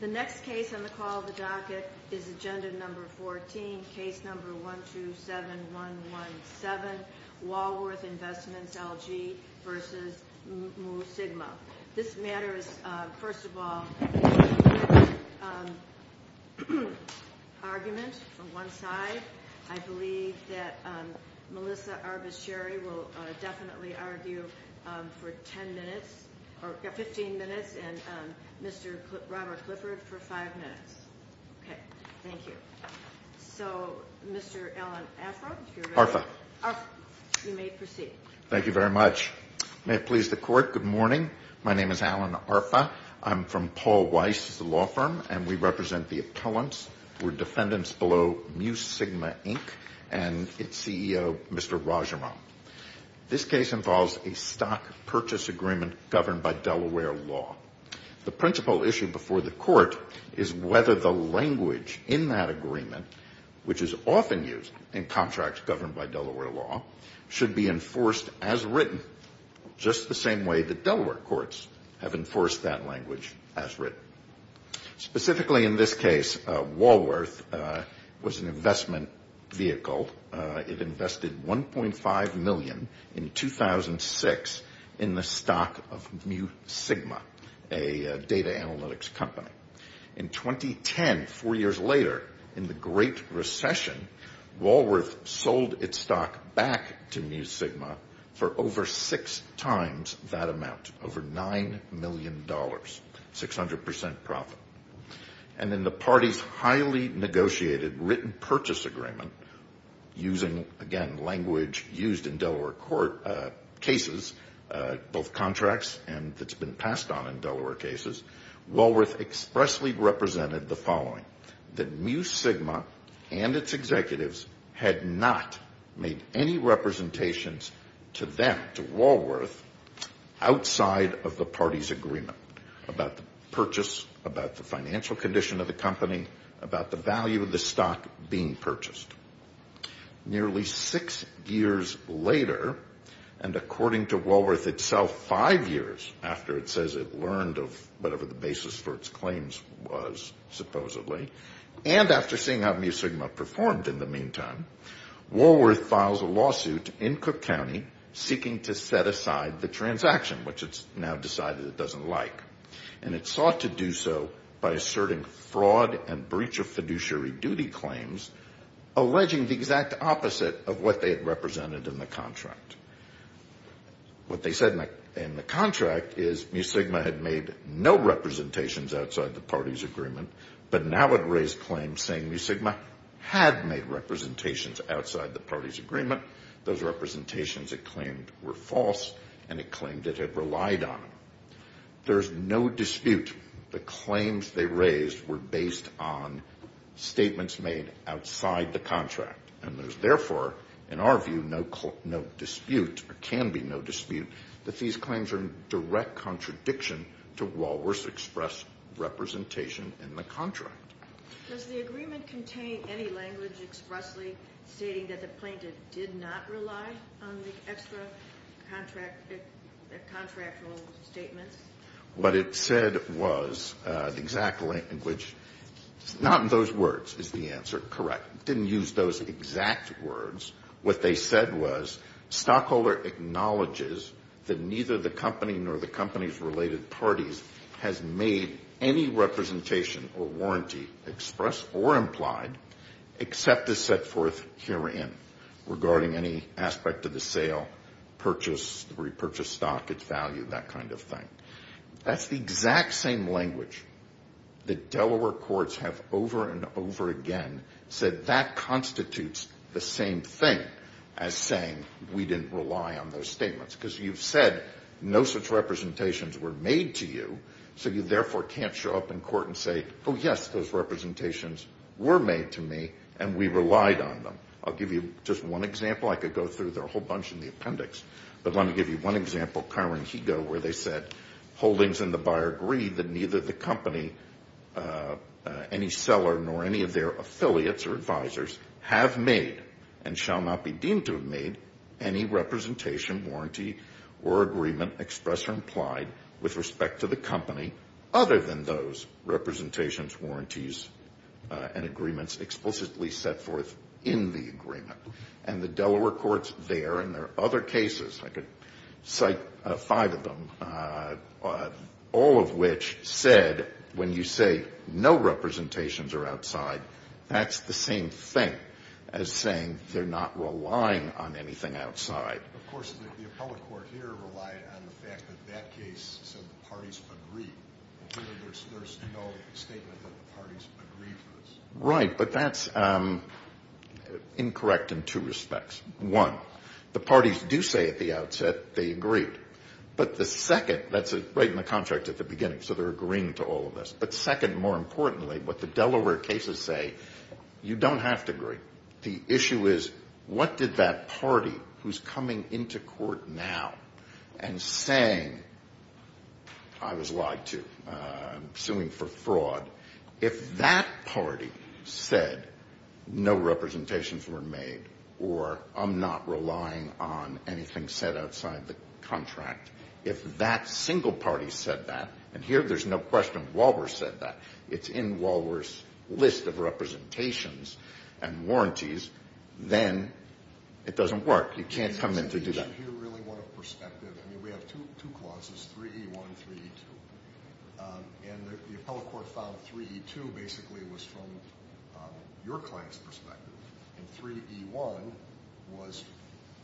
The next case on the call of the docket is Agenda No. 14, Case No. 127117, Walworth Investments-LG v. Mu Sigma. This matter is, first of all, an argument from one side. I believe that Melissa Arbus-Sherry will definitely argue for 10 minutes, or 15 minutes, and Mr. Robert Clifford for 5 minutes. Okay, thank you. So, Mr. Alan Afron, if you're ready. Arfa. You may proceed. Thank you very much. May it please the Court, good morning. My name is Alan Arfa. I'm from Paul Weiss' law firm, and we represent the appellants. We're defendants below Mu Sigma, Inc., and its CEO, Mr. Rajaram. This case involves a stock purchase agreement governed by Delaware law. The principal issue before the Court is whether the language in that agreement, which is often used in contracts governed by Delaware law, should be enforced as written, just the same way that Delaware courts have enforced that language as written. Specifically in this case, Walworth was an investment vehicle. It invested $1.5 million in 2006 in the stock of Mu Sigma, a data analytics company. In 2010, four years later, in the Great Recession, Walworth sold its stock back to Mu Sigma for over six times that amount, over $9 million, 600% profit. And in the party's highly negotiated written purchase agreement, using, again, language used in Delaware court cases, both contracts and that's been passed on in Delaware cases, Walworth expressly represented the following, that Mu Sigma and its executives had not made any representations to them, outside of the party's agreement about the purchase, about the financial condition of the company, about the value of the stock being purchased. Nearly six years later, and according to Walworth itself, five years after it says it learned of whatever the basis for its claims was, supposedly, and after seeing how Mu Sigma performed in the meantime, Walworth files a lawsuit in Cook County seeking to set aside the transaction, which it's now decided it doesn't like. And it sought to do so by asserting fraud and breach of fiduciary duty claims, alleging the exact opposite of what they had represented in the contract. What they said in the contract is Mu Sigma had made no representations outside the party's agreement, but now it raised claims saying Mu Sigma had made representations outside the party's agreement. Those representations it claimed were false, and it claimed it had relied on them. There's no dispute the claims they raised were based on statements made outside the contract, and there's therefore, in our view, no dispute, or can be no dispute, that these claims are in direct contradiction to Walworth's express representation in the contract. Does the agreement contain any language expressly stating that the plaintiff did not rely on the extra contractual statements? What it said was the exact language. It's not in those words is the answer. Correct. It didn't use those exact words. What they said was stockholder acknowledges that neither the company nor the company's related parties has made any representation or warranty expressed or implied except as set forth herein regarding any aspect of the sale, purchase, repurchase stock, its value, that kind of thing. That's the exact same language that Delaware courts have over and over again said that that constitutes the same thing as saying we didn't rely on those statements because you've said no such representations were made to you, so you therefore can't show up in court and say, oh, yes, those representations were made to me, and we relied on them. I'll give you just one example. I could go through a whole bunch in the appendix, but let me give you one example, where they said holdings and the buyer agreed that neither the company, any seller nor any of their affiliates or advisors have made and shall not be deemed to have made any representation, warranty, or agreement expressed or implied with respect to the company other than those representations, warranties, and agreements explicitly set forth in the agreement. And the Delaware courts there, and there are other cases. I could cite five of them, all of which said when you say no representations are outside, that's the same thing as saying they're not relying on anything outside. Of course, the appellate court here relied on the fact that that case said the parties agreed. There's no statement that the parties agreed to this. Right, but that's incorrect in two respects. One, the parties do say at the outset they agreed. But the second, that's right in the contract at the beginning, so they're agreeing to all of this. But second, more importantly, what the Delaware cases say, you don't have to agree. The issue is what did that party who's coming into court now and saying I was lied to, I'm suing for fraud, if that party said no representations were made or I'm not relying on anything set outside the contract, if that single party said that, and here there's no question Walworth said that, it's in Walworth's list of representations and warranties, then it doesn't work. You can't come in to do that. I have a question here, really, one of perspective. I mean, we have two clauses, 3E1 and 3E2, and the appellate court found 3E2 basically was from your client's perspective and 3E1 was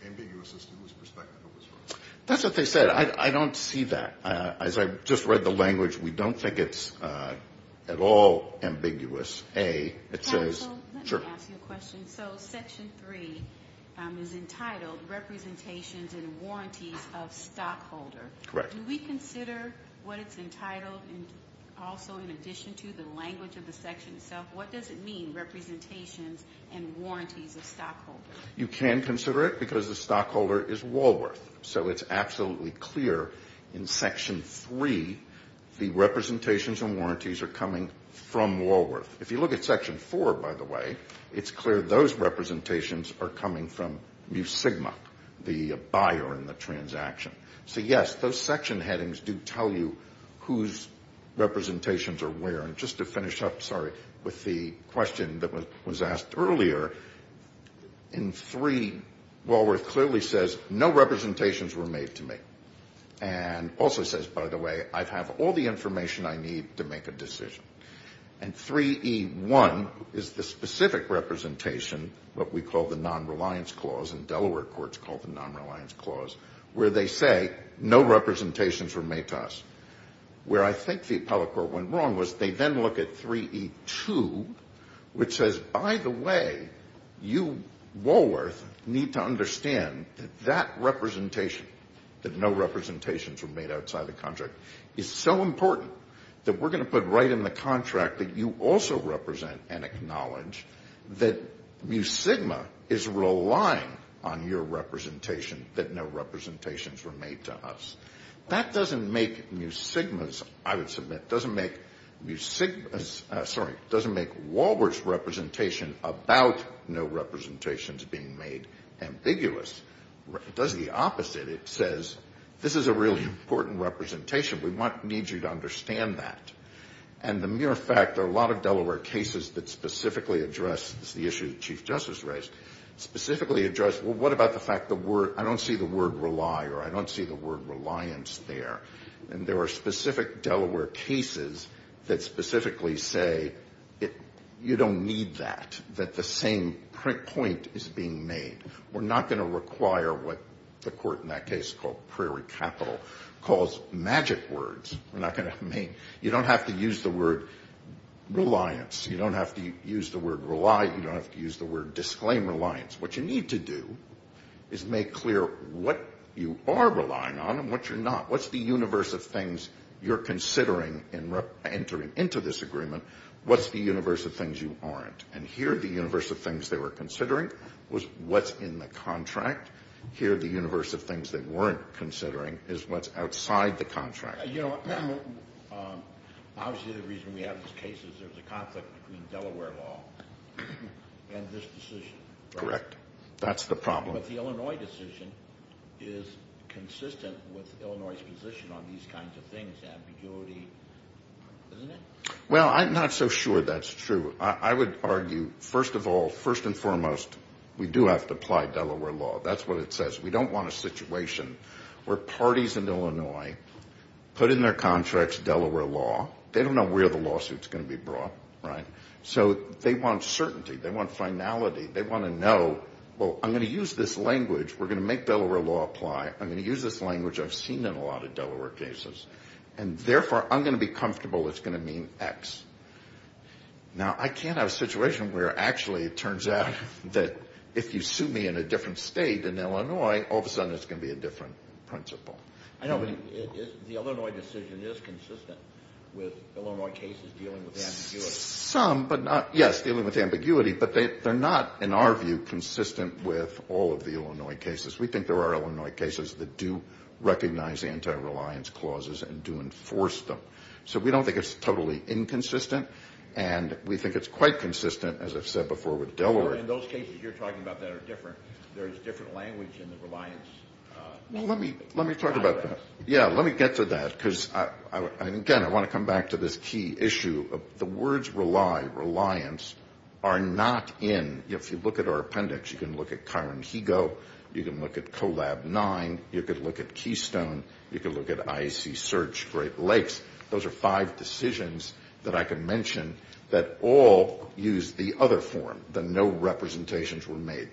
ambiguous as to whose perspective it was from. That's what they said. I don't see that. As I just read the language, we don't think it's at all ambiguous. Counsel, let me ask you a question. So Section 3 is entitled Representations and Warranties of Stockholder. Correct. Do we consider what it's entitled also in addition to the language of the section itself? What does it mean, Representations and Warranties of Stockholder? You can consider it because the stockholder is Walworth, so it's absolutely clear in Section 3 the representations and warranties are coming from Walworth. If you look at Section 4, by the way, it's clear those representations are coming from Mu Sigma, the buyer in the transaction. So, yes, those section headings do tell you whose representations are where. And just to finish up, sorry, with the question that was asked earlier, in 3, Walworth clearly says no representations were made to me. And also says, by the way, I have all the information I need to make a decision. And 3E1 is the specific representation, what we call the nonreliance clause, and Delaware courts call the nonreliance clause, where they say no representations were made to us. Where I think the appellate court went wrong was they then look at 3E2, which says, by the way, you, Walworth, need to understand that that representation, that no representations were made outside the contract, is so important that we're going to put right in the contract that you also represent and acknowledge that Mu Sigma is relying on your representation, that no representations were made to us. That doesn't make Mu Sigma's, I would submit, doesn't make Mu Sigma's, sorry, doesn't make Walworth's representation about no representations being made ambiguous. It does the opposite. It says, this is a really important representation. We need you to understand that. And the mere fact that a lot of Delaware cases that specifically address the issue that Chief Justice raised, specifically address, well, what about the fact that I don't see the word rely or I don't see the word reliance there, and there are specific Delaware cases that specifically say you don't need that, that the same point is being made. We're not going to require what the court in that case called Prairie Capital calls magic words. We're not going to make, you don't have to use the word reliance. You don't have to use the word rely. You don't have to use the word disclaim reliance. What you need to do is make clear what you are relying on and what you're not. What's the universe of things you're considering in entering into this agreement? What's the universe of things you aren't? And here the universe of things they were considering was what's in the contract. Here the universe of things they weren't considering is what's outside the contract. You know, obviously the reason we have these cases is there's a conflict between Delaware law and this decision. Correct. That's the problem. But the Illinois decision is consistent with Illinois' position on these kinds of things, ambiguity, isn't it? Well, I'm not so sure that's true. I would argue, first of all, first and foremost, we do have to apply Delaware law. That's what it says. We don't want a situation where parties in Illinois put in their contracts Delaware law. They don't know where the lawsuit's going to be brought, right? So they want certainty. They want finality. They want to know, well, I'm going to use this language. We're going to make Delaware law apply. I'm going to use this language I've seen in a lot of Delaware cases. And, therefore, I'm going to be comfortable it's going to mean X. Now, I can't have a situation where actually it turns out that if you sue me in a different state in Illinois, all of a sudden it's going to be a different principle. I know, but the Illinois decision is consistent with Illinois cases dealing with ambiguity. Yes, dealing with ambiguity, but they're not, in our view, consistent with all of the Illinois cases. We think there are Illinois cases that do recognize anti-reliance clauses and do enforce them. So we don't think it's totally inconsistent. And we think it's quite consistent, as I've said before, with Delaware. In those cases you're talking about that are different. There's different language in the reliance. Well, let me talk about that. Yeah, let me get to that. Because, again, I want to come back to this key issue of the words rely, reliance, are not in. If you look at our appendix, you can look at Kyron Higo, you can look at COLAB 9, you can look at Keystone, you can look at IAC Search, Great Lakes. Those are five decisions that I can mention that all use the other form, that no representations were made.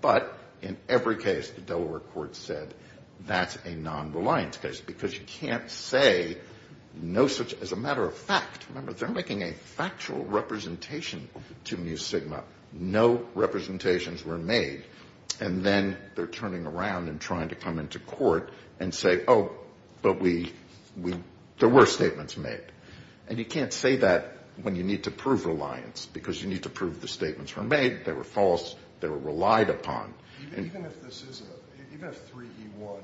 But in every case the Delaware court said that's a non-reliance case. Because you can't say no such as a matter of fact. Remember, they're making a factual representation to Mu Sigma. No representations were made. And then they're turning around and trying to come into court and say, oh, but there were statements made. And you can't say that when you need to prove reliance, because you need to prove the statements were made, they were false, they were relied upon. Even if this is a, even if 3E1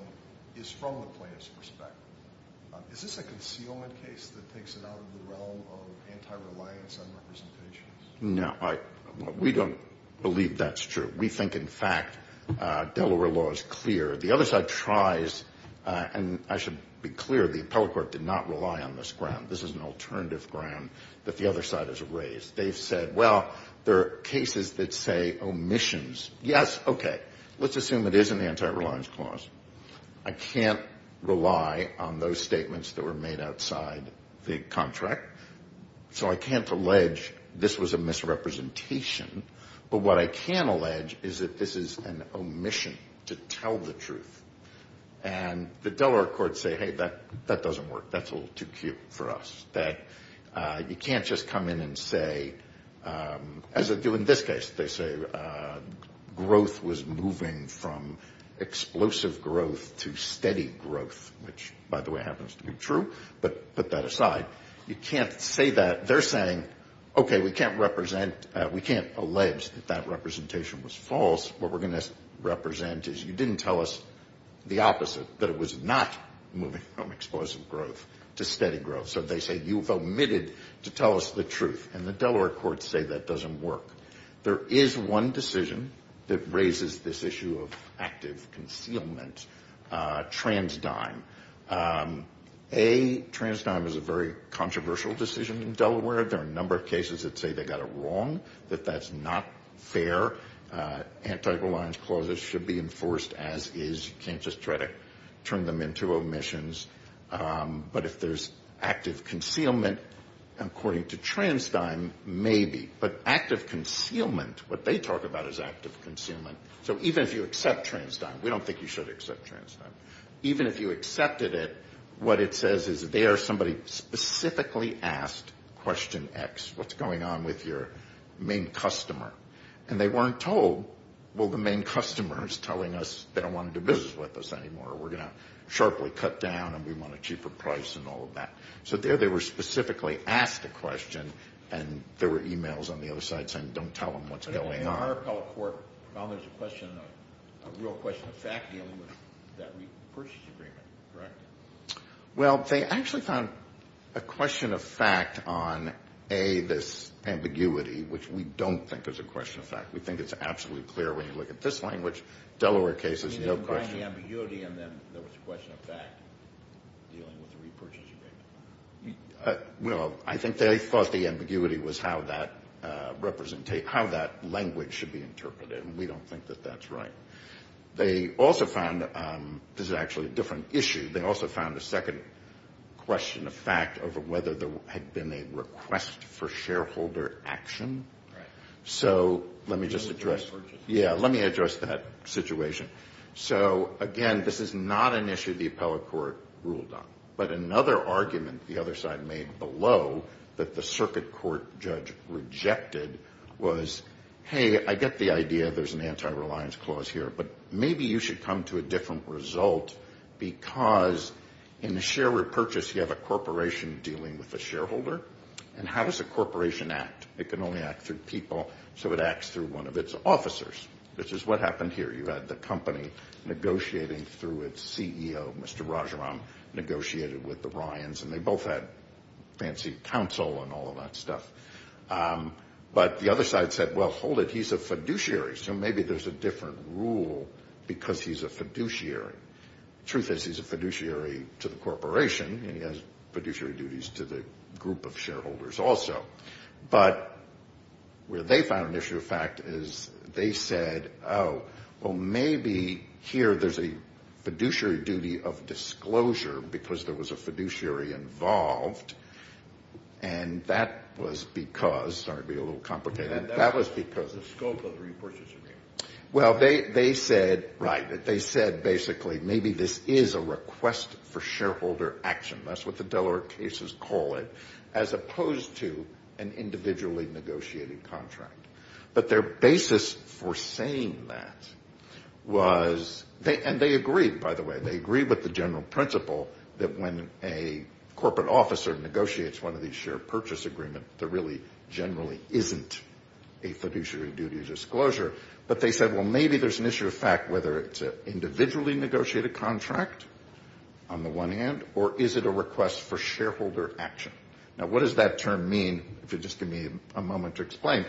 is from the plaintiff's perspective, is this a concealment case that takes it out of the realm of anti-reliance on representations? No. We don't believe that's true. We think, in fact, Delaware law is clear. The other side tries, and I should be clear, the appellate court did not rely on this ground. This is an alternative ground that the other side has raised. They've said, well, there are cases that say omissions. Yes, okay, let's assume it is an anti-reliance clause. I can't rely on those statements that were made outside the contract. So I can't allege this was a misrepresentation. But what I can allege is that this is an omission to tell the truth. And the Delaware courts say, hey, that doesn't work. That's a little too cute for us. That you can't just come in and say, as they do in this case, they say growth was moving from explosive growth to steady growth, which, by the way, happens to be true. But put that aside, you can't say that. They're saying, okay, we can't represent, we can't allege that that representation was false. What we're going to represent is you didn't tell us the opposite, that it was not moving from explosive growth to steady growth. So they say you've omitted to tell us the truth. And the Delaware courts say that doesn't work. There is one decision that raises this issue of active concealment, trans dime. A, trans dime is a very controversial decision in Delaware. There are a number of cases that say they got it wrong, that that's not fair. Anti-reliance clauses should be enforced as is. You can't just try to turn them into omissions. But if there's active concealment, according to trans dime, maybe. But active concealment, what they talk about is active concealment. So even if you accept trans dime, we don't think you should accept trans dime. Even if you accepted it, what it says is there somebody specifically asked question X, what's going on with your main customer? And they weren't told, well, the main customer is telling us they don't want to do business with us anymore. We're going to sharply cut down, and we want a cheaper price and all of that. So there they were specifically asked a question, and there were e-mails on the other side saying don't tell them what's going on. But in our appellate court, there's a question, a real question of fact dealing with that repurchase agreement, correct? Well, they actually found a question of fact on A, this ambiguity, which we don't think is a question of fact. We think it's absolutely clear when you look at this language. Delaware case is no question. You mean regarding the ambiguity, and then there was a question of fact dealing with the repurchase agreement? Well, I think they thought the ambiguity was how that language should be interpreted, and we don't think that that's right. They also found, this is actually a different issue, they also found a second question of fact over whether there had been a request for shareholder action. Right. So let me just address. Yeah, let me address that situation. So, again, this is not an issue the appellate court ruled on. But another argument the other side made below that the circuit court judge rejected was, hey, I get the idea there's an anti-reliance clause here, but maybe you should come to a different result because in the share repurchase, you have a corporation dealing with a shareholder, and how does a corporation act? It can only act through people, so it acts through one of its officers, which is what happened here. You had the company negotiating through its CEO, Mr. Rajaram, negotiated with the Ryans, and they both had fancy counsel and all of that stuff. But the other side said, well, hold it, he's a fiduciary, so maybe there's a different rule because he's a fiduciary. The truth is he's a fiduciary to the corporation, and he has fiduciary duties to the group of shareholders also. But where they found an issue of fact is they said, oh, well, maybe here there's a fiduciary duty of disclosure because there was a fiduciary involved, and that was because the scope of the repurchase agreement. Well, they said, right, they said basically maybe this is a request for shareholder action. That's what the Delaware cases call it, as opposed to an individually negotiated contract. But their basis for saying that was, and they agreed, by the way, they agreed with the general principle that when a corporate officer negotiates one of these share purchase agreements, there really generally isn't a fiduciary duty of disclosure. But they said, well, maybe there's an issue of fact, whether it's an individually negotiated contract on the one hand or is it a request for shareholder action. Now, what does that term mean? If you'll just give me a moment to explain.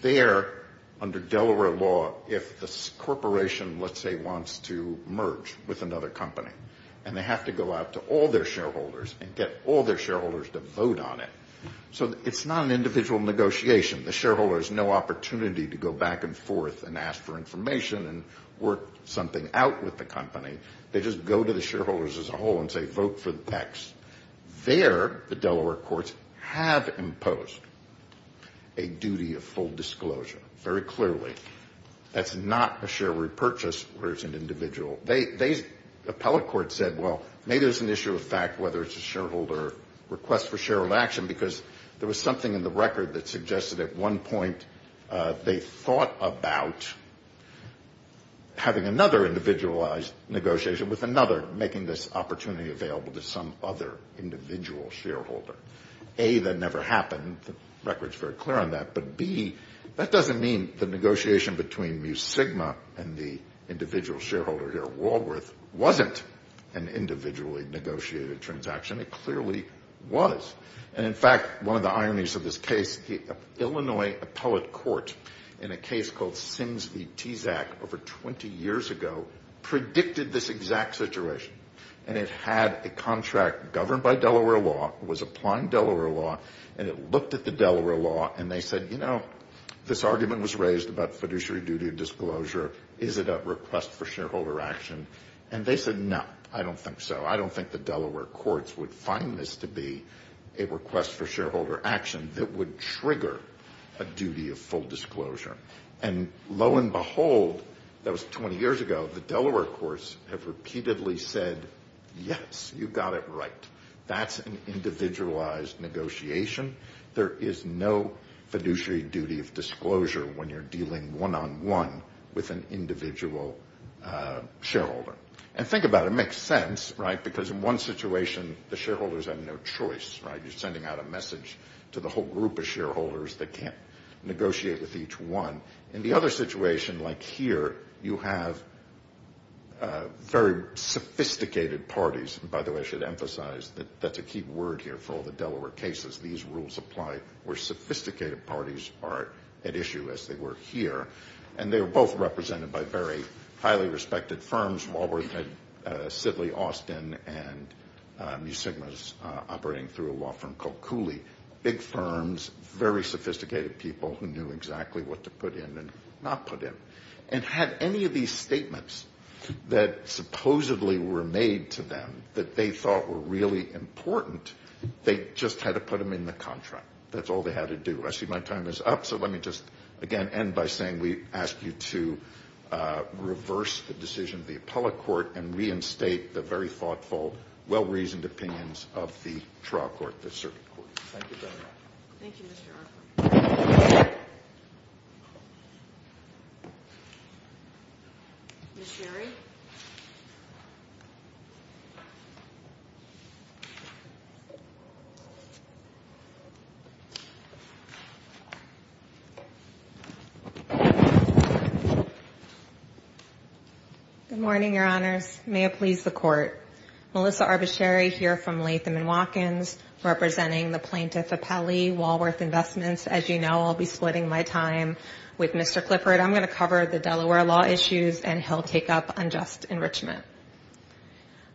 There, under Delaware law, if the corporation, let's say, wants to merge with another company and they have to go out to all their shareholders and get all their shareholders to vote on it, so it's not an individual negotiation. The shareholder has no opportunity to go back and forth and ask for information and work something out with the company. They just go to the shareholders as a whole and say, vote for the PECs. There, the Delaware courts have imposed a duty of full disclosure, very clearly. That's not a share repurchase where it's an individual. The appellate court said, well, maybe there's an issue of fact, whether it's a shareholder request for shareholder action, because there was something in the record that suggested at one point they thought about having another individualized negotiation with another, making this opportunity available to some other individual shareholder. A, that never happened. The record's very clear on that. But B, that doesn't mean the negotiation between Mu Sigma and the individual shareholder here at Walworth wasn't an individually negotiated transaction. It clearly was. And, in fact, one of the ironies of this case, the Illinois appellate court, in a case called Sims v. Tezak over 20 years ago, predicted this exact situation. And it had a contract governed by Delaware law, was applying Delaware law, and it looked at the Delaware law, and they said, you know, this argument was raised about fiduciary duty of disclosure. Is it a request for shareholder action? And they said, no, I don't think so. I don't think the Delaware courts would find this to be a request for shareholder action that would trigger a duty of full disclosure. And, lo and behold, that was 20 years ago, the Delaware courts have repeatedly said, yes, you got it right. That's an individualized negotiation. There is no fiduciary duty of disclosure when you're dealing one-on-one with an individual shareholder. And think about it. It makes sense, right, because in one situation, the shareholders have no choice, right? You're sending out a message to the whole group of shareholders that can't negotiate with each one. In the other situation, like here, you have very sophisticated parties. And, by the way, I should emphasize that that's a key word here for all the Delaware cases. These rules apply where sophisticated parties are at issue, as they were here. And they were both represented by very highly respected firms. Walworth, Sidley, Austin, and Mu Sigma's operating through a law firm called Cooley. Big firms, very sophisticated people who knew exactly what to put in and not put in. And had any of these statements that supposedly were made to them that they thought were really important, they just had to put them in the contract. That's all they had to do. I see my time is up. So let me just, again, end by saying we ask you to reverse the decision of the appellate court and reinstate the very thoughtful, well-reasoned opinions of the trial court, the circuit court. Thank you very much. Thank you, Mr. Arthur. Ms. Sherry? Good morning, Your Honors. May it please the Court. Melissa Arbus Sherry here from Latham & Watkins representing the plaintiff appellee, Walworth Investments. As you know, I'll be splitting my time with Mr. Clifford. I'm going to cover the Delaware law issues, and he'll take up unjust enrichment.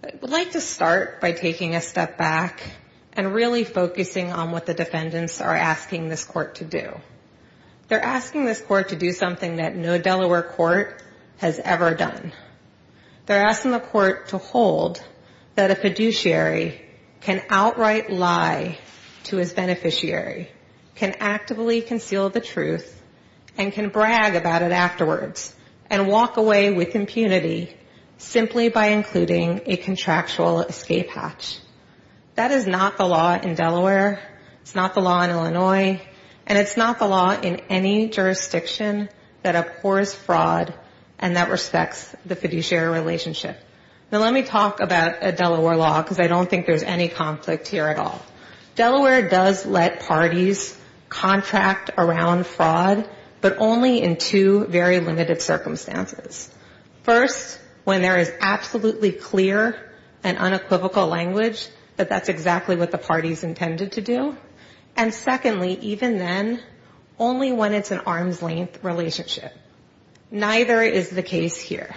I would like to start by taking a step back and really focusing on what the defendants are asking this court to do. They're asking this court to do something that no Delaware court has ever done. They're asking the court to hold that a fiduciary can outright lie to his beneficiary, can actively conceal the truth, and can brag about it afterwards and walk away with impunity simply by including a contractual escape hatch. That is not the law in Delaware. It's not the law in Illinois. And it's not the law in any jurisdiction that abhors fraud and that respects the fiduciary relationship. Now, let me talk about Delaware law, because I don't think there's any conflict here at all. Delaware does let parties contract around fraud, but only in two very limited circumstances. First, when there is absolutely clear and unequivocal language that that's exactly what the parties intended to do. And secondly, even then, only when it's an arm's-length relationship. Neither is the case here.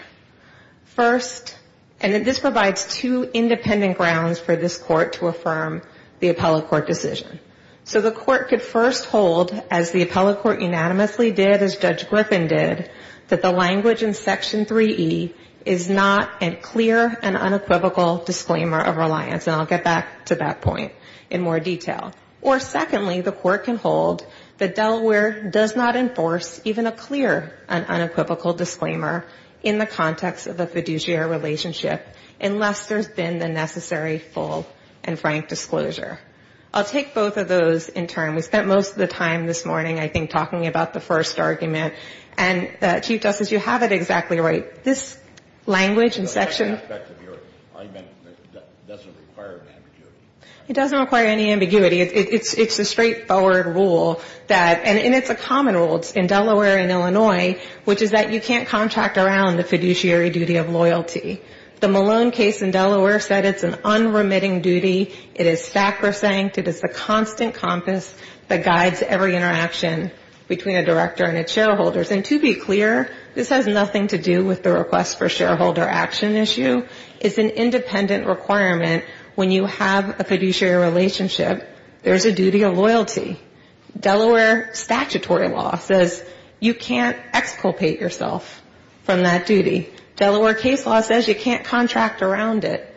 First, and this provides two independent grounds for this court to affirm the appellate court decision. So the court could first hold, as the appellate court unanimously did, as Judge Griffin did, that the language in Section 3E is not a clear and unequivocal disclaimer of reliance. And I'll get back to that point in more detail. Or secondly, the court can hold that Delaware does not enforce even a clear and unequivocal disclaimer in the context of a fiduciary relationship unless there's been the necessary full and frank disclosure. I'll take both of those in turn. We spent most of the time this morning, I think, talking about the first argument. And, Chief Justice, you have it exactly right. This language in Section ---- It doesn't require any ambiguity. It doesn't require any ambiguity. It's a straightforward rule that ñ and it's a common rule in Delaware and Illinois, which is that you can't contract around the fiduciary duty of loyalty. The Malone case in Delaware said it's an unremitting duty. It is sacrosanct. It is the constant compass that guides every interaction between a director and its shareholders. And to be clear, this has nothing to do with the request for shareholder action issue. It's an independent requirement. When you have a fiduciary relationship, there's a duty of loyalty. Delaware statutory law says you can't exculpate yourself from that duty. Delaware case law says you can't contract around it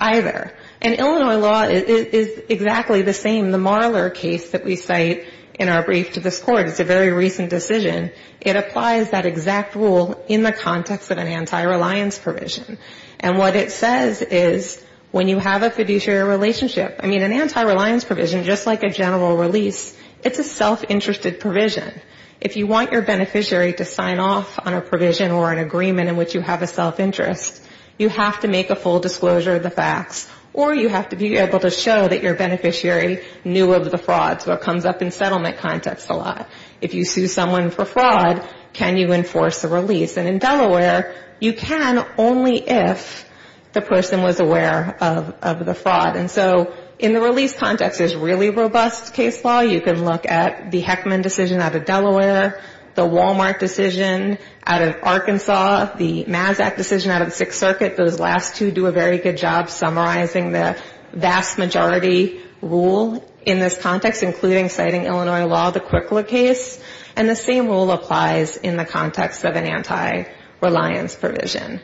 either. And Illinois law is exactly the same. The Marler case that we cite in our brief to this Court is a very recent decision. It applies that exact rule in the context of an anti-reliance provision. And what it says is when you have a fiduciary relationship, I mean, an anti-reliance provision, just like a general release, it's a self-interested provision. If you want your beneficiary to sign off on a provision or an agreement in which you have a self-interest, you have to make a full disclosure of the facts, or you have to be able to show that your beneficiary knew of the fraud. So it comes up in settlement context a lot. If you sue someone for fraud, can you enforce a release? And in Delaware, you can only if the person was aware of the fraud. And so in the release context, there's really robust case law. You can look at the Heckman decision out of Delaware, the Wal-Mart decision out of Arkansas, the Mazak decision out of the Sixth Circuit. Those last two do a very good job summarizing the vast majority rule in this context, including citing Illinois law, the Quickler case. And the same rule applies in the context of an anti-reliance provision.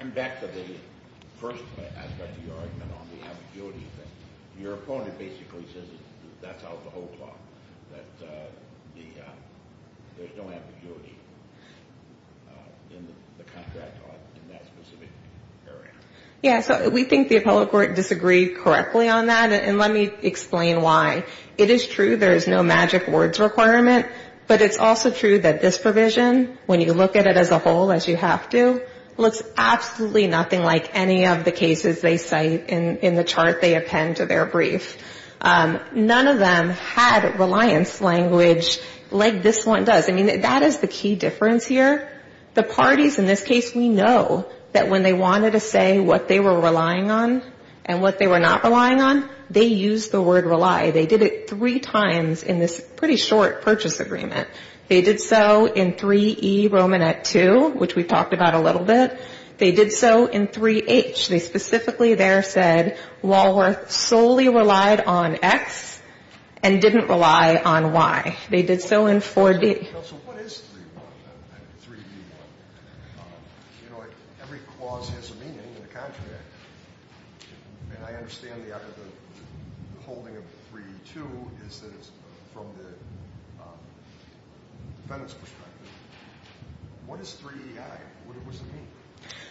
And back to the first aspect of your argument on the ambiguity thing. Your opponent basically says that's out of the whole plot, that there's no ambiguity in the contract in that specific area. Yeah, so we think the appellate court disagreed correctly on that. And let me explain why. It is true there is no magic words requirement. But it's also true that this provision, when you look at it as a whole, as you have to, looks absolutely nothing like any of the cases they cite in the chart they append to their brief. None of them had reliance language like this one does. I mean, that is the key difference here. The parties in this case, we know that when they wanted to say what they were relying on and what they were not relying on, they used the word rely. They did it three times in this pretty short purchase agreement. They did so in 3E Romanet 2, which we've talked about a little bit. They did so in 3H. They specifically there said Walworth solely relied on X and didn't rely on Y. They did so in 4D.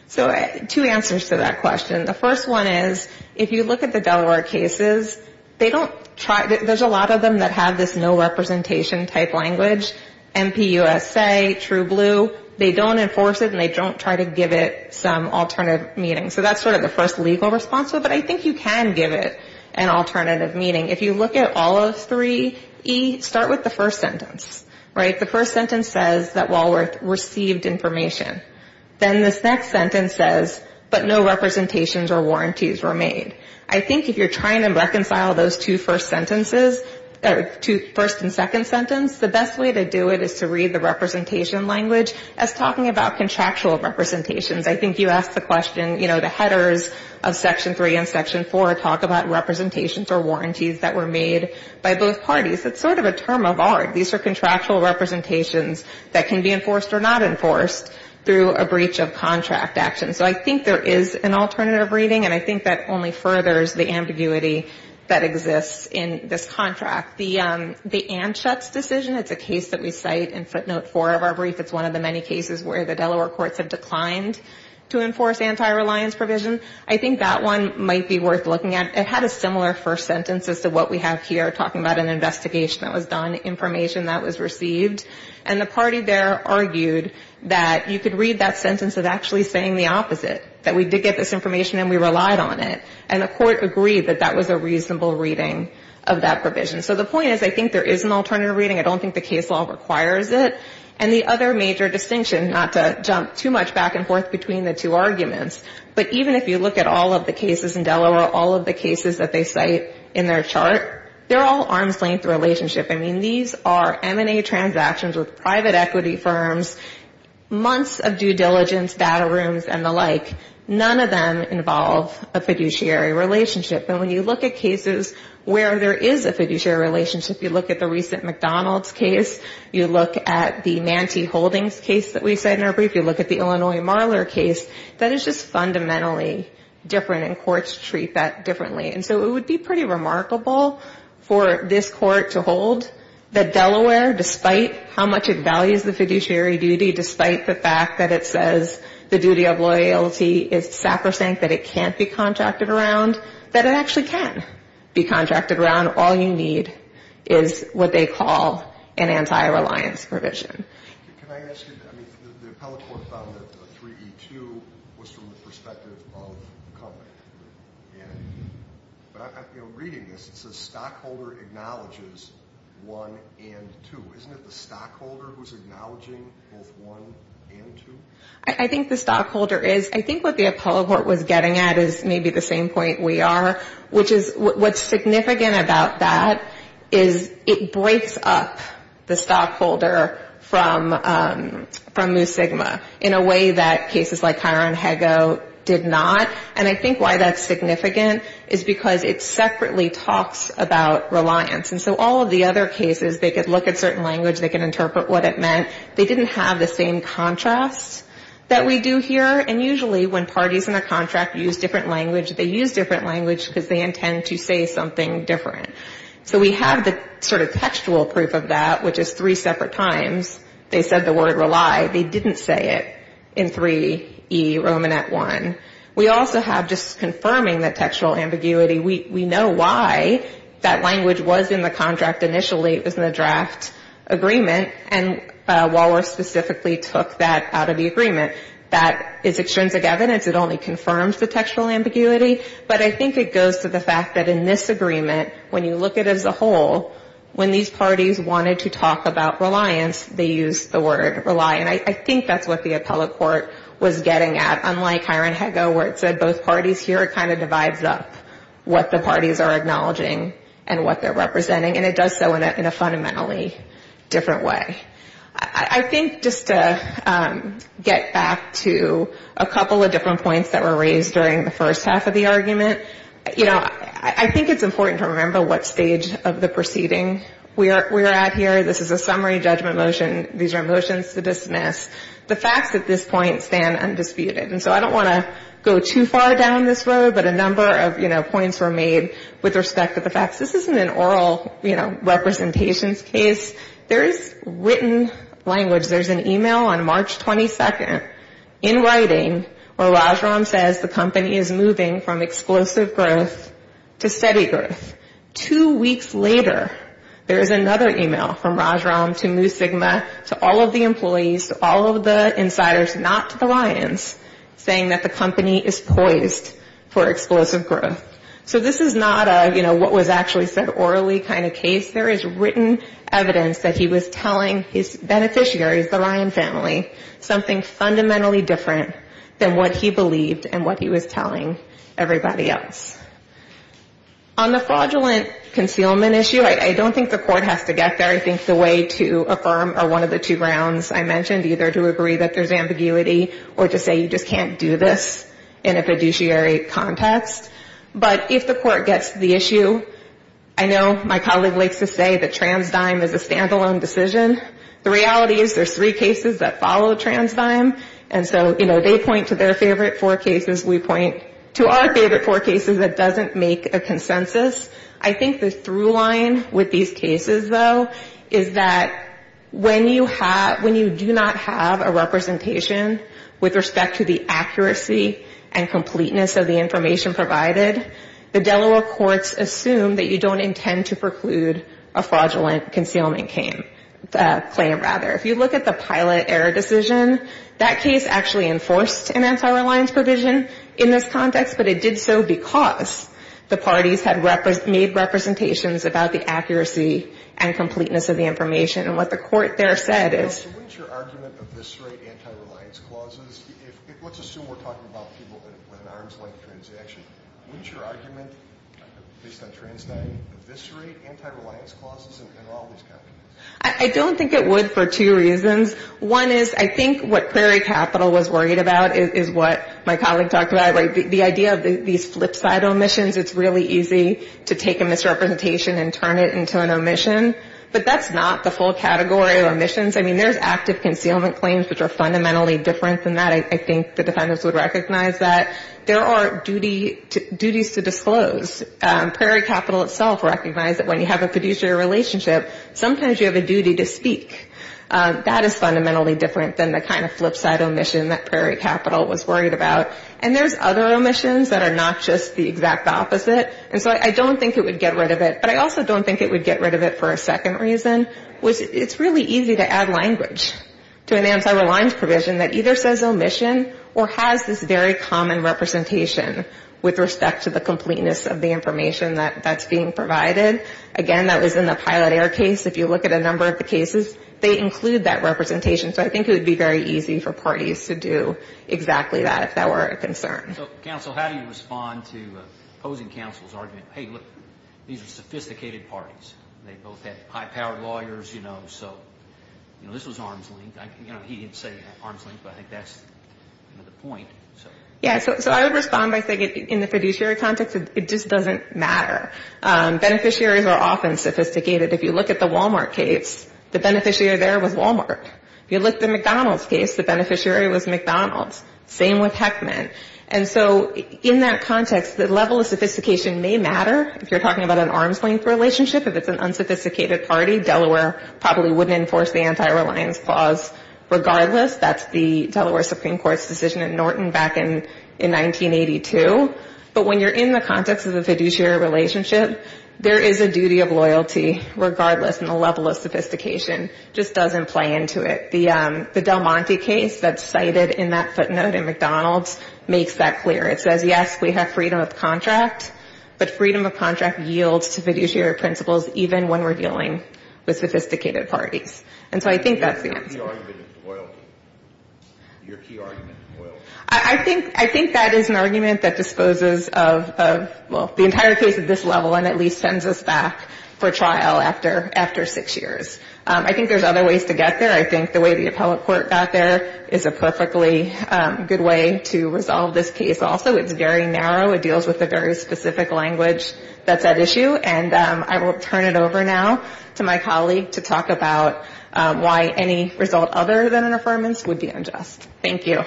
So two answers to that question. The first one is, if you look at the Delaware cases, there's a lot of them that have this no representation type language. MPUSA, True Blue, they don't enforce it and they don't try to give it some alternative meaning. So that's sort of the first legal response. But I think you can give it an alternative meaning. If you look at all of 3E, start with the first sentence. The first sentence says that Walworth received information. Then this next sentence says, but no representations or warranties were made. I think if you're trying to reconcile those two first sentences, first and second sentence, the best way to do it is to read the representation language as talking about contractual representations. I think you asked the question, you know, the headers of Section 3 and Section 4 talk about representations or warranties that were made by both parties. It's sort of a term of art. These are contractual representations that can be enforced or not enforced through a breach of contract action. So I think there is an alternative reading. And I think that only furthers the ambiguity that exists in this contract. The Anschutz decision, it's a case that we cite in footnote 4 of our brief. It's one of the many cases where the Delaware courts have declined to enforce anti-reliance provision. I think that one might be worth looking at. It had a similar first sentence as to what we have here, talking about an investigation that was done, information that was received. And the party there argued that you could read that sentence as actually saying the opposite, that we did get this information and we relied on it. And the court agreed that that was a reasonable reading of that provision. So the point is I think there is an alternative reading. I don't think the case law requires it. And the other major distinction, not to jump too much back and forth between the two arguments, but even if you look at all of the cases in Delaware, all of the cases that they cite in their chart, they're all arm's length relationship. I mean, these are M&A transactions with private equity firms, months of due diligence, battle rooms and the like. None of them involve a fiduciary relationship. And when you look at cases where there is a fiduciary relationship, you look at the recent McDonald's case, you look at the Nanty Holdings case that we cite in our brief, you look at the Illinois Marler case, that is just fundamentally different and courts treat that differently. And so it would be pretty remarkable for this court to hold that Delaware, despite how much it values the fiduciary duty, despite the fact that it says the duty of loyalty is sacrosanct, that it can't be contracted around, that it actually can be contracted around. All you need is what they call an anti-reliance provision. Can I ask you, I mean, the appellate court found that 3E2 was from the perspective of company. And reading this, it says stockholder acknowledges 1 and 2. Isn't it the stockholder who's acknowledging both 1 and 2? I think the stockholder is. I think what the appellate court was getting at is maybe the same point we are, which is what's significant about that is it breaks up the stockholder from Mu Sigma, in a way that cases like Hiron Hego did not. And I think why that's significant is because it separately talks about reliance. And so all of the other cases, they could look at certain language, they could interpret what it meant. They didn't have the same contrast that we do here. And usually when parties in the contract use different language, they use different language because they intend to say something different. So we have the sort of textual proof of that, which is three separate times. They said the word rely. They didn't say it in 3E Romanet 1. We also have just confirming the textual ambiguity. We know why that language was in the contract initially. It was in the draft agreement. And Waller specifically took that out of the agreement. That is extrinsic evidence. It only confirms the textual ambiguity. But I think it goes to the fact that in this agreement, when you look at it as a whole, when these parties wanted to talk about reliance, they used the word rely. And I think that's what the appellate court was getting at. Unlike Hiron Hego, where it said both parties here, it kind of divides up what the parties are acknowledging and what they're representing. And it does so in a fundamentally different way. I think just to get back to a couple of different points that were raised during the first half of the argument, you know, I think it's important to remember what stage of the proceeding we're at here. This is a summary judgment motion. These are motions to dismiss. The facts at this point stand undisputed. And so I don't want to go too far down this road, but a number of, you know, points were made with respect to the facts. This isn't an oral, you know, representations case. There is written language. There's an e-mail on March 22nd in writing where Rajaram says the company is moving from explosive growth to steady growth. Two weeks later, there is another e-mail from Rajaram to Mu Sigma, to all of the employees, to all of the insiders, not to the lions, saying that the company is poised for explosive growth. So this is not a, you know, what was actually said orally kind of case. There is written evidence that he was telling his beneficiaries, the lion family, something fundamentally different than what he believed and what he was telling everybody else. On the fraudulent concealment issue, I don't think the Court has to get there. I think the way to affirm are one of the two grounds I mentioned, either to agree that there's ambiguity or to say you just can't do this in a fiduciary context. But if the Court gets to the issue, I know my colleague likes to say that Transdime is a stand-alone decision. The reality is there's three cases that follow Transdime. And so, you know, they point to their favorite four cases. We point to our favorite four cases that doesn't make a consensus. I think the through line with these cases, though, is that when you have, when you do not have a representation with respect to the accuracy and completeness of the information provided, the Delaware courts assume that you don't intend to preclude a fraudulent concealment claim, rather. If you look at the pilot error decision, that case actually enforced an anti-reliance provision in this context, but it did so because the parties had made representations about the accuracy and completeness of the information. And what the Court there said is... So wouldn't your argument eviscerate anti-reliance clauses? Let's assume we're talking about people with an arm's length transaction. Wouldn't your argument based on Transdime eviscerate anti-reliance clauses in all these cases? I don't think it would for two reasons. One is I think what Clery Capital was worried about is what my colleague talked about. The idea of these flip side omissions, it's really easy to take a misrepresentation and turn it into an omission. But that's not the full category of omissions. I mean, there's active concealment claims which are fundamentally different than that. I think the defendants would recognize that. There are duties to disclose. Prairie Capital itself recognized that when you have a fiduciary relationship, sometimes you have a duty to speak. That is fundamentally different than the kind of flip side omission that Prairie Capital was worried about. And there's other omissions that are not just the exact opposite. And so I don't think it would get rid of it. But I also don't think it would get rid of it for a second reason, which it's really easy to add language to an anti-reliance provision that either says omission or has this very common representation with respect to the completeness of the information that's being provided. Again, that was in the Pilot Air case. If you look at a number of the cases, they include that representation. So I think it would be very easy for parties to do exactly that if that were a concern. So, counsel, how do you respond to opposing counsel's argument? Hey, look, these are sophisticated parties. They both have high-powered lawyers, you know, so, you know, this was arm's length. You know, he didn't say arm's length, but I think that's the point. Yeah, so I would respond by saying in the fiduciary context, it just doesn't matter. Beneficiaries are often sophisticated. If you look at the Walmart case, the beneficiary there was Walmart. If you look at the McDonald's case, the beneficiary was McDonald's. Same with Heckman. And so in that context, the level of sophistication may matter. If you're talking about an arm's length relationship, if it's an unsophisticated party, Delaware probably wouldn't enforce the anti-reliance clause regardless. That's the Delaware Supreme Court's decision in Norton back in 1982. But when you're in the context of the fiduciary relationship, there is a duty of loyalty regardless, and the level of sophistication just doesn't play into it. The Del Monte case that's cited in that footnote in McDonald's makes that clear. It says, yes, we have freedom of contract, but freedom of contract yields to fiduciary principles even when we're dealing with sophisticated parties. And so I think that's the answer. Your key argument is loyalty. Your key argument is loyalty. I think that is an argument that disposes of, well, the entire case at this level and at least sends us back for trial after six years. I think there's other ways to get there. I think the way the appellate court got there is a perfectly good way to resolve this case also. It's very narrow. It deals with a very specific language that's at issue. And I will turn it over now to my colleague to talk about why any result other than an affirmance would be unjust. Thank you.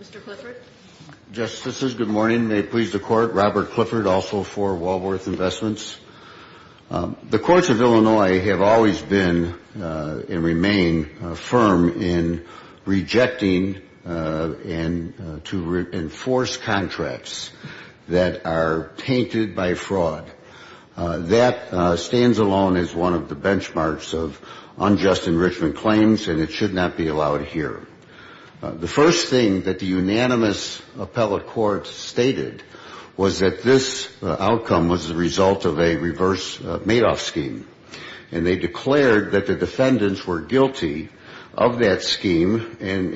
Mr. Clifford? Justices, good morning. May it please the Court. Robert Clifford, also for Walworth Investments. The courts of Illinois have always been and remain firm in rejecting and to enforce contracts that are tainted by fraud. That stands alone as one of the benchmarks of unjust enrichment claims, and it should not be allowed here. The first thing that the unanimous appellate court stated was that this outcome was the result of a reverse Madoff scheme. And they declared that the defendants were guilty of that scheme, and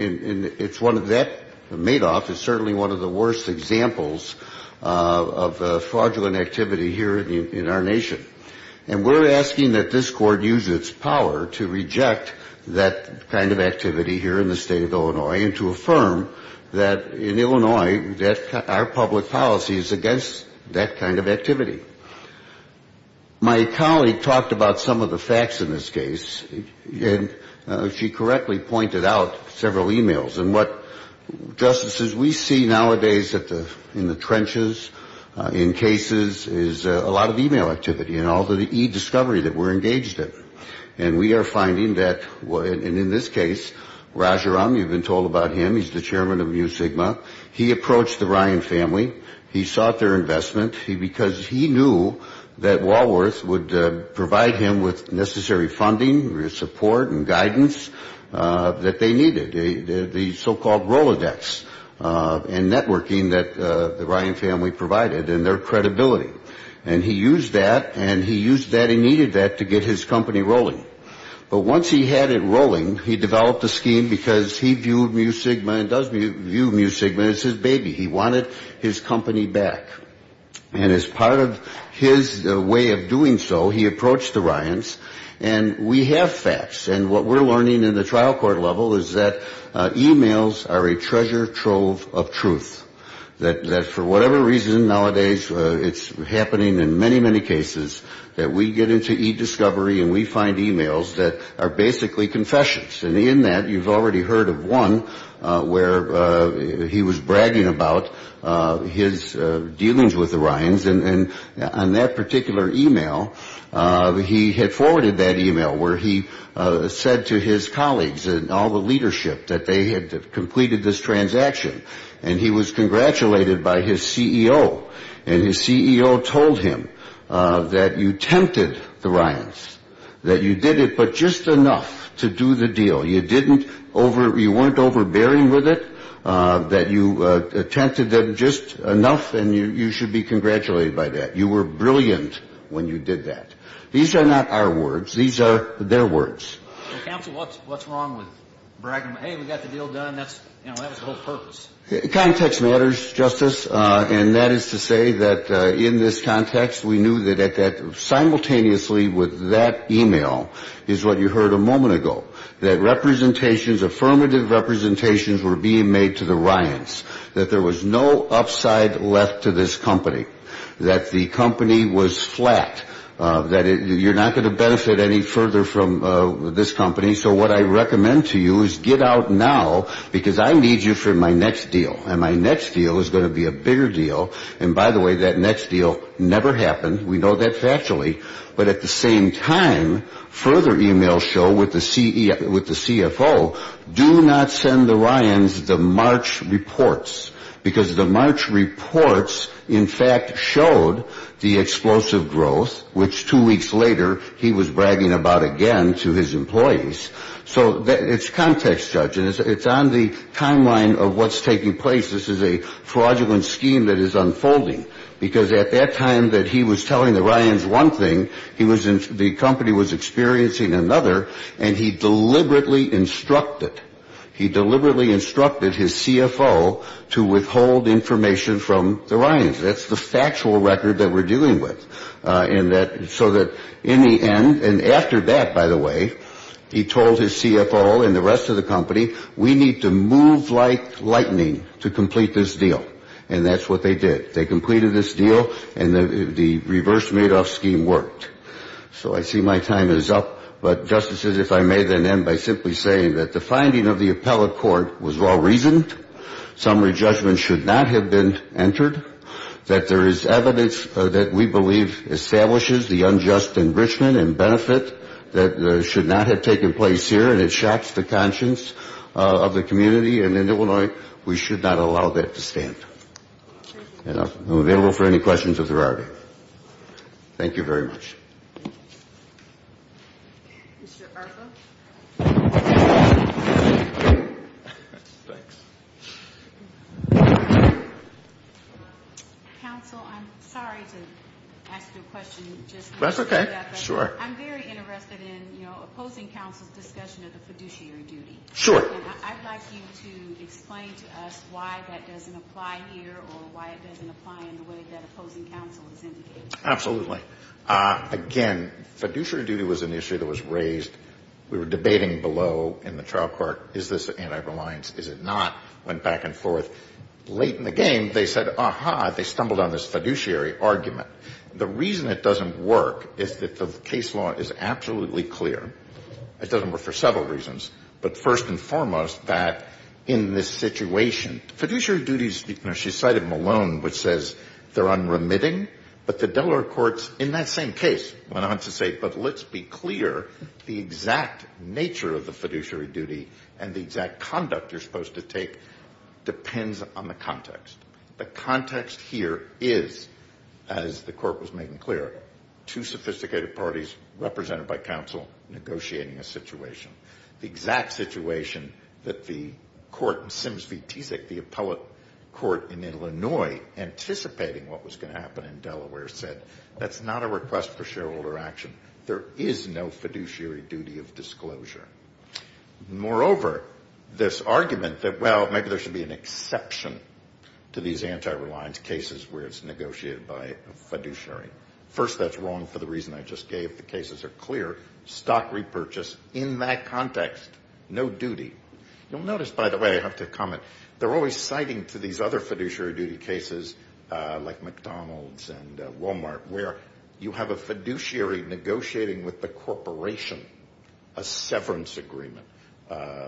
it's one of that Madoff is certainly one of the worst examples of fraudulent activity here in our nation. And we're asking that this Court use its power to reject that kind of activity here in the State of Illinois and to affirm that in Illinois our public policy is against that kind of activity. My colleague talked about some of the facts in this case, and she correctly pointed out several e-mails. And what, Justices, we see nowadays in the trenches, in cases, is a lot of e-mail activity and all the e-discovery that we're engaged in. And we are finding that, and in this case, Rajaram, you've been told about him, he's the chairman of Mu Sigma. He approached the Ryan family. He sought their investment because he knew that Walworth would provide him with necessary funding, support and guidance that they needed, the so-called Rolodex and networking that the Ryan family provided and their credibility. And he used that, and he used that and needed that to get his company rolling. But once he had it rolling, he developed a scheme because he viewed Mu Sigma and does view Mu Sigma as his baby. He wanted his company back. And as part of his way of doing so, he approached the Ryans, and we have facts. And what we're learning in the trial court level is that e-mails are a treasure trove of truth, that for whatever reason nowadays it's happening in many, many cases that we get into e-discovery and we find e-mails that are basically confessions. And in that, you've already heard of one where he was bragging about his dealings with the Ryans. And on that particular e-mail, he had forwarded that e-mail where he said to his colleagues and all the leadership that they had completed this transaction. And he was congratulated by his CEO. And his CEO told him that you tempted the Ryans, that you did it but just enough to do the deal. You weren't overbearing with it, that you tempted them just enough, and you should be congratulated by that. You were brilliant when you did that. These are not our words. These are their words. Counsel, what's wrong with bragging about, hey, we got the deal done? That was the whole purpose. Context matters, Justice, and that is to say that in this context, we knew that simultaneously with that e-mail is what you heard a moment ago, that representations, affirmative representations were being made to the Ryans, that there was no upside left to this company, that the company was flat, that you're not going to benefit any further from this company. So what I recommend to you is get out now because I need you for my next deal. And my next deal is going to be a bigger deal. And by the way, that next deal never happened. We know that factually. But at the same time, further e-mails show with the CFO, do not send the Ryans the March reports because the March reports in fact showed the explosive growth, which two weeks later he was bragging about again to his employees. So it's context, Judge, and it's on the timeline of what's taking place. This is a fraudulent scheme that is unfolding because at that time that he was telling the Ryans one thing, the company was experiencing another, and he deliberately instructed, he deliberately instructed his CFO to withhold information from the Ryans. That's the factual record that we're dealing with. So that in the end, and after that, by the way, he told his CFO and the rest of the company, we need to move like lightning to complete this deal. And that's what they did. They completed this deal, and the reverse Madoff scheme worked. So I see my time is up. But, Justices, if I may then end by simply saying that the finding of the appellate court was well-reasoned, that summary judgment should not have been entered, that there is evidence that we believe establishes the unjust enrichment and benefit that should not have taken place here, and it shocks the conscience of the community in Illinois. We should not allow that to stand. I'm available for any questions if there are any. Thank you very much. Thank you. Mr. Arpa? Thanks. Counsel, I'm sorry to ask you a question. That's okay. Sure. I'm very interested in, you know, opposing counsel's discussion of the fiduciary duty. Sure. And I'd like you to explain to us why that doesn't apply here or why it doesn't apply in the way that opposing counsel is indicating. Absolutely. Again, fiduciary duty was an issue that was raised. We were debating below in the trial court, is this anti-reliance, is it not, went back and forth. Late in the game, they said, aha, they stumbled on this fiduciary argument. The reason it doesn't work is that the case law is absolutely clear. It doesn't work for several reasons. But first and foremost, that in this situation, fiduciary duties, you know, she cited Malone, which says they're unremitting, but the Delaware courts in that same case went on to say, but let's be clear, the exact nature of the fiduciary duty and the exact conduct you're supposed to take depends on the context. The context here is, as the court was making clear, two sophisticated parties represented by counsel negotiating a situation. The exact situation that the court in Sims v. Teasic, the appellate court in Illinois, anticipating what was going to happen in Delaware, said, that's not a request for shareholder action. There is no fiduciary duty of disclosure. Moreover, this argument that, well, maybe there should be an exception to these anti-reliance cases where it's negotiated by a fiduciary. First, that's wrong for the reason I just gave. The cases are clear. Stock repurchase. In that context, no duty. You'll notice, by the way, I have to comment, they're always citing to these other fiduciary duty cases like McDonald's and Walmart, where you have a fiduciary negotiating with the corporation a severance agreement,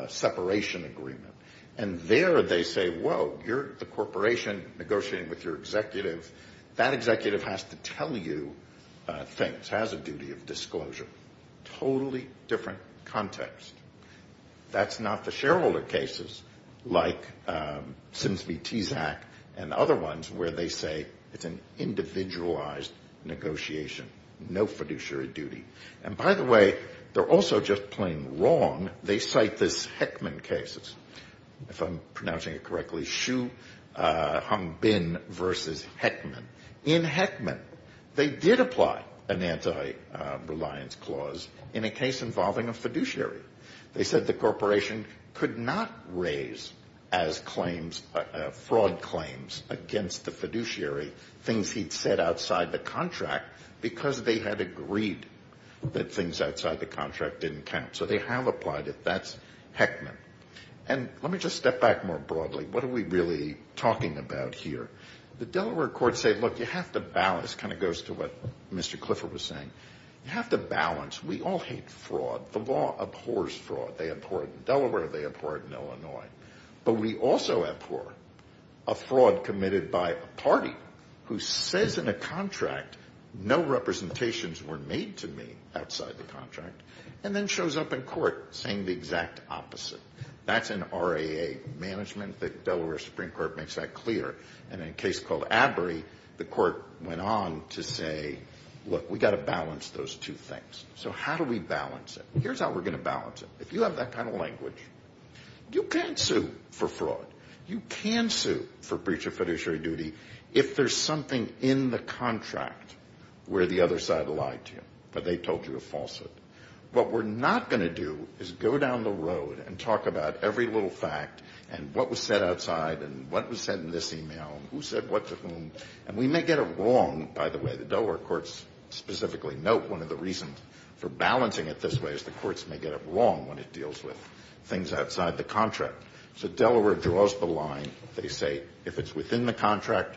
separation agreement. And there they say, whoa, you're the corporation negotiating with your executive. That executive has to tell you things, has a duty of disclosure. Totally different context. That's not the shareholder cases like Sims v. Teasic and other ones where they say it's an individualized negotiation, no fiduciary duty. And, by the way, they're also just plain wrong. They cite these Heckman cases, if I'm pronouncing it correctly, Humbin v. Heckman. In Heckman, they did apply an anti-reliance clause in a case involving a fiduciary. They said the corporation could not raise as claims, fraud claims, against the fiduciary things he'd said outside the contract because they had agreed that things outside the contract didn't count. So they have applied it. That's Heckman. And let me just step back more broadly. What are we really talking about here? The Delaware courts say, look, you have to balance. It kind of goes to what Mr. Clifford was saying. You have to balance. We all hate fraud. The law abhors fraud. They abhor it in Delaware. They abhor it in Illinois. But we also abhor a fraud committed by a party who says in a contract, no representations were made to me outside the contract, and then shows up in court saying the exact opposite. That's an RAA management. The Delaware Supreme Court makes that clear. And in a case called Abbery, the court went on to say, look, we've got to balance those two things. So how do we balance it? Here's how we're going to balance it. If you have that kind of language, you can't sue for fraud. You can sue for breach of fiduciary duty if there's something in the contract where the other side lied to you or they told you a falsehood. What we're not going to do is go down the road and talk about every little fact and what was said outside and what was said in this email, who said what to whom. And we may get it wrong, by the way. The Delaware courts specifically note one of the reasons for balancing it this way is the courts may get it wrong when it deals with things outside the contract. So Delaware draws the line. They say if it's within the contract,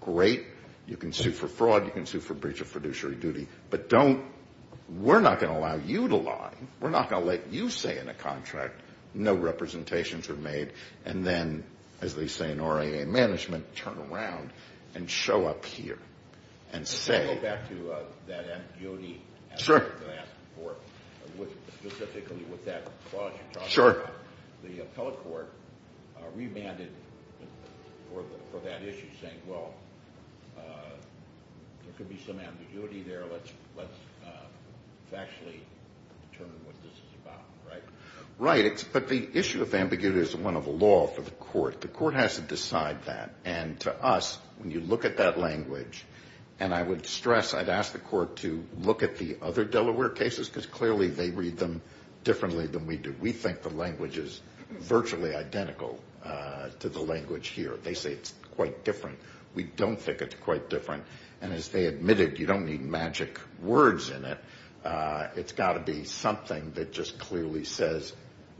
great. You can sue for fraud. You can sue for breach of fiduciary duty. But we're not going to allow you to lie. We're not going to let you say in a contract no representations were made and then, as they say in RIA management, turn around and show up here and say. Right. But the issue of ambiguity is one of the law for the court. The court has to decide that. And to us, when you look at that language, and I would stress I'd ask the court to look at the other Delaware cases because clearly they read them differently than we do. We think the language is virtually identical to the language here. They say it's quite different. We don't think it's quite different. And as they admitted, you don't need magic words in it. It's got to be something that just clearly says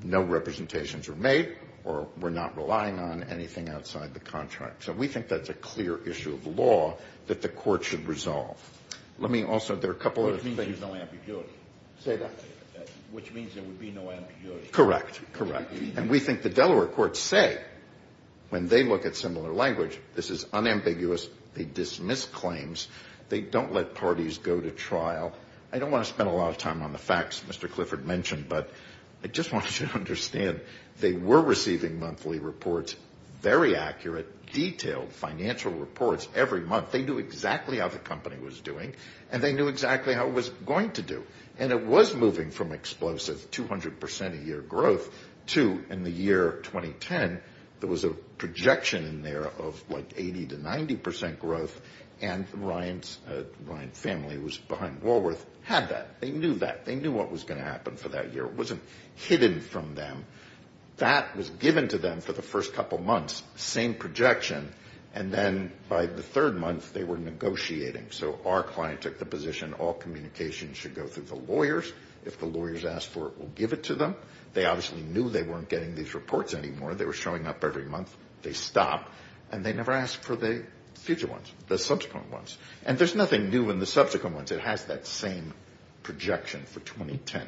no representations were made or we're not relying on anything outside the contract. So we think that's a clear issue of law that the court should resolve. Let me also, there are a couple other things. Which means there's no ambiguity. Say that again. Which means there would be no ambiguity. Correct. Correct. And we think the Delaware courts say when they look at similar language, this is unambiguous. They dismiss claims. They don't let parties go to trial. I don't want to spend a lot of time on the facts Mr. Clifford mentioned, but I just want you to understand they were receiving monthly reports, very accurate, detailed financial reports every month. They knew exactly how the company was doing and they knew exactly how it was going to do. And it was moving from explosive 200% a year growth to in the year 2010, there was a projection in there of like 80% to 90% growth and Ryan's family, it was behind Woolworth, had that. They knew that. It wasn't hidden from them. That was given to them for the first couple months, same projection, and then by the third month they were negotiating. So our client took the position all communication should go through the lawyers. If the lawyers ask for it, we'll give it to them. They obviously knew they weren't getting these reports anymore. They were showing up every month. They stopped and they never asked for the future ones, the subsequent ones. And there's nothing new in the subsequent ones. It has that same projection for 2010.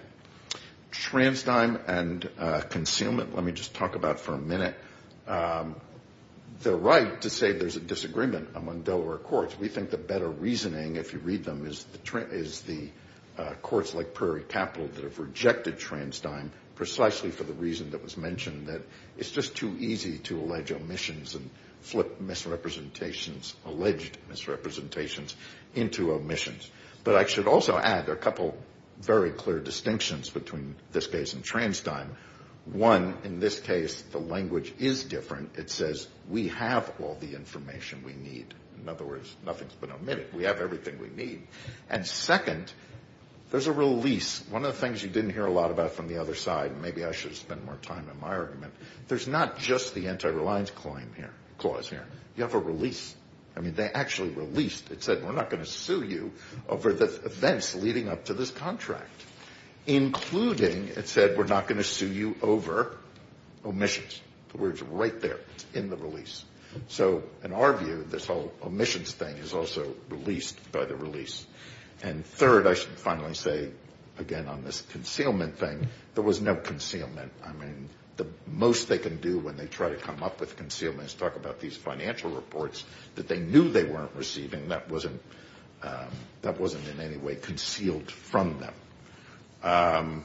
Transdime and concealment, let me just talk about for a minute. They're right to say there's a disagreement among Delaware courts. We think the better reasoning, if you read them, is the courts like Prairie Capital that have rejected transdime precisely for the reason that was mentioned, that it's just too easy to allege omissions and flip misrepresentations, alleged misrepresentations, into omissions. But I should also add a couple very clear distinctions between this case and transdime. One, in this case, the language is different. It says we have all the information we need. In other words, nothing's been omitted. We have everything we need. And second, there's a release. One of the things you didn't hear a lot about from the other side, and maybe I should spend more time in my argument, there's not just the anti-reliance clause here. You have a release. I mean, they actually released. It said we're not going to sue you over the events leading up to this contract, including it said we're not going to sue you over omissions. The word's right there. It's in the release. So in our view, this whole omissions thing is also released by the release. And third, I should finally say, again, on this concealment thing, there was no concealment. I mean, the most they can do when they try to come up with concealment is talk about these financial reports that they knew they weren't receiving. That wasn't in any way concealed from them.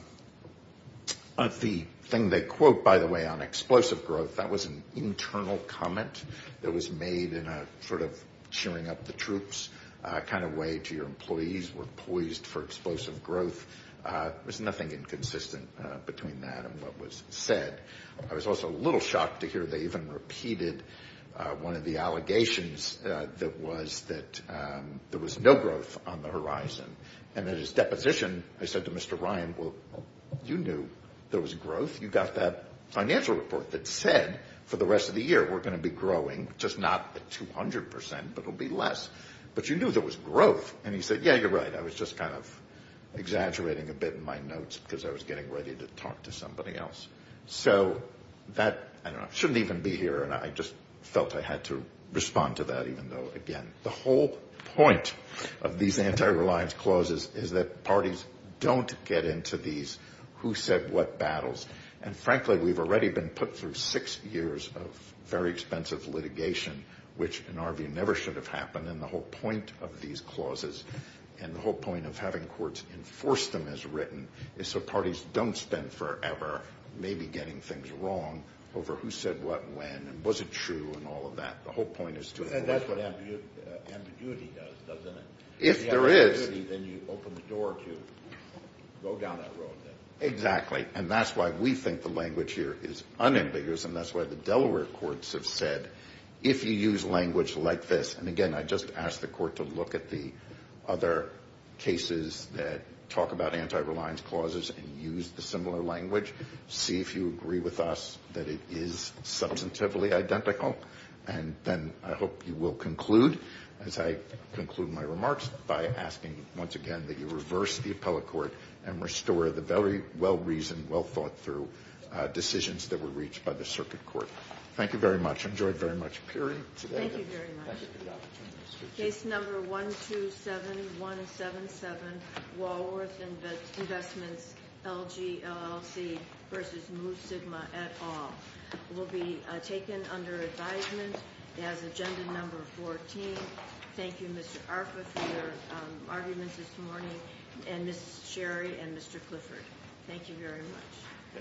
The thing they quote, by the way, on explosive growth, that was an internal comment that was made in a sort of cheering up the troops kind of way to your employees. We're poised for explosive growth. There's nothing inconsistent between that and what was said. I was also a little shocked to hear they even repeated one of the allegations that was that there was no growth on the horizon. And at his deposition, I said to Mr. Ryan, well, you knew there was growth. You got that financial report that said for the rest of the year we're going to be growing, just not at 200 percent, but it'll be less. But you knew there was growth. And he said, yeah, you're right. I was just kind of exaggerating a bit in my notes because I was getting ready to talk to somebody else. So that, I don't know, shouldn't even be here, and I just felt I had to respond to that even though, again, the whole point of these anti-reliance clauses is that parties don't get into these who said what battles. And frankly, we've already been put through six years of very expensive litigation, which in our view never should have happened. And the whole point of these clauses and the whole point of having courts enforce them as written is so parties don't spend forever maybe getting things wrong over who said what when and was it true and all of that. The whole point is to enforce them. And that's what ambiguity does, doesn't it? If there is. If you have ambiguity, then you open the door to go down that road then. Exactly. And that's why we think the language here is unambiguous, and that's why the Delaware courts have said if you use language like this, and, again, I just ask the court to look at the other cases that talk about anti-reliance clauses and use the similar language, see if you agree with us that it is substantively identical, and then I hope you will conclude, as I conclude my remarks, by asking once again that you reverse the appellate court and restore the very well-reasoned, well-thought-through decisions that were reached by the circuit court. Thank you very much. I enjoyed very much appearing today. Thank you very much. Thank you for the opportunity. Case number 127177, Walworth Investments, LGLLC v. Moo Sigma et al. will be taken under advisement as agenda number 14. Thank you, Mr. Arpa, for your arguments this morning, and Ms. Sherry and Mr. Clifford. Thank you very much.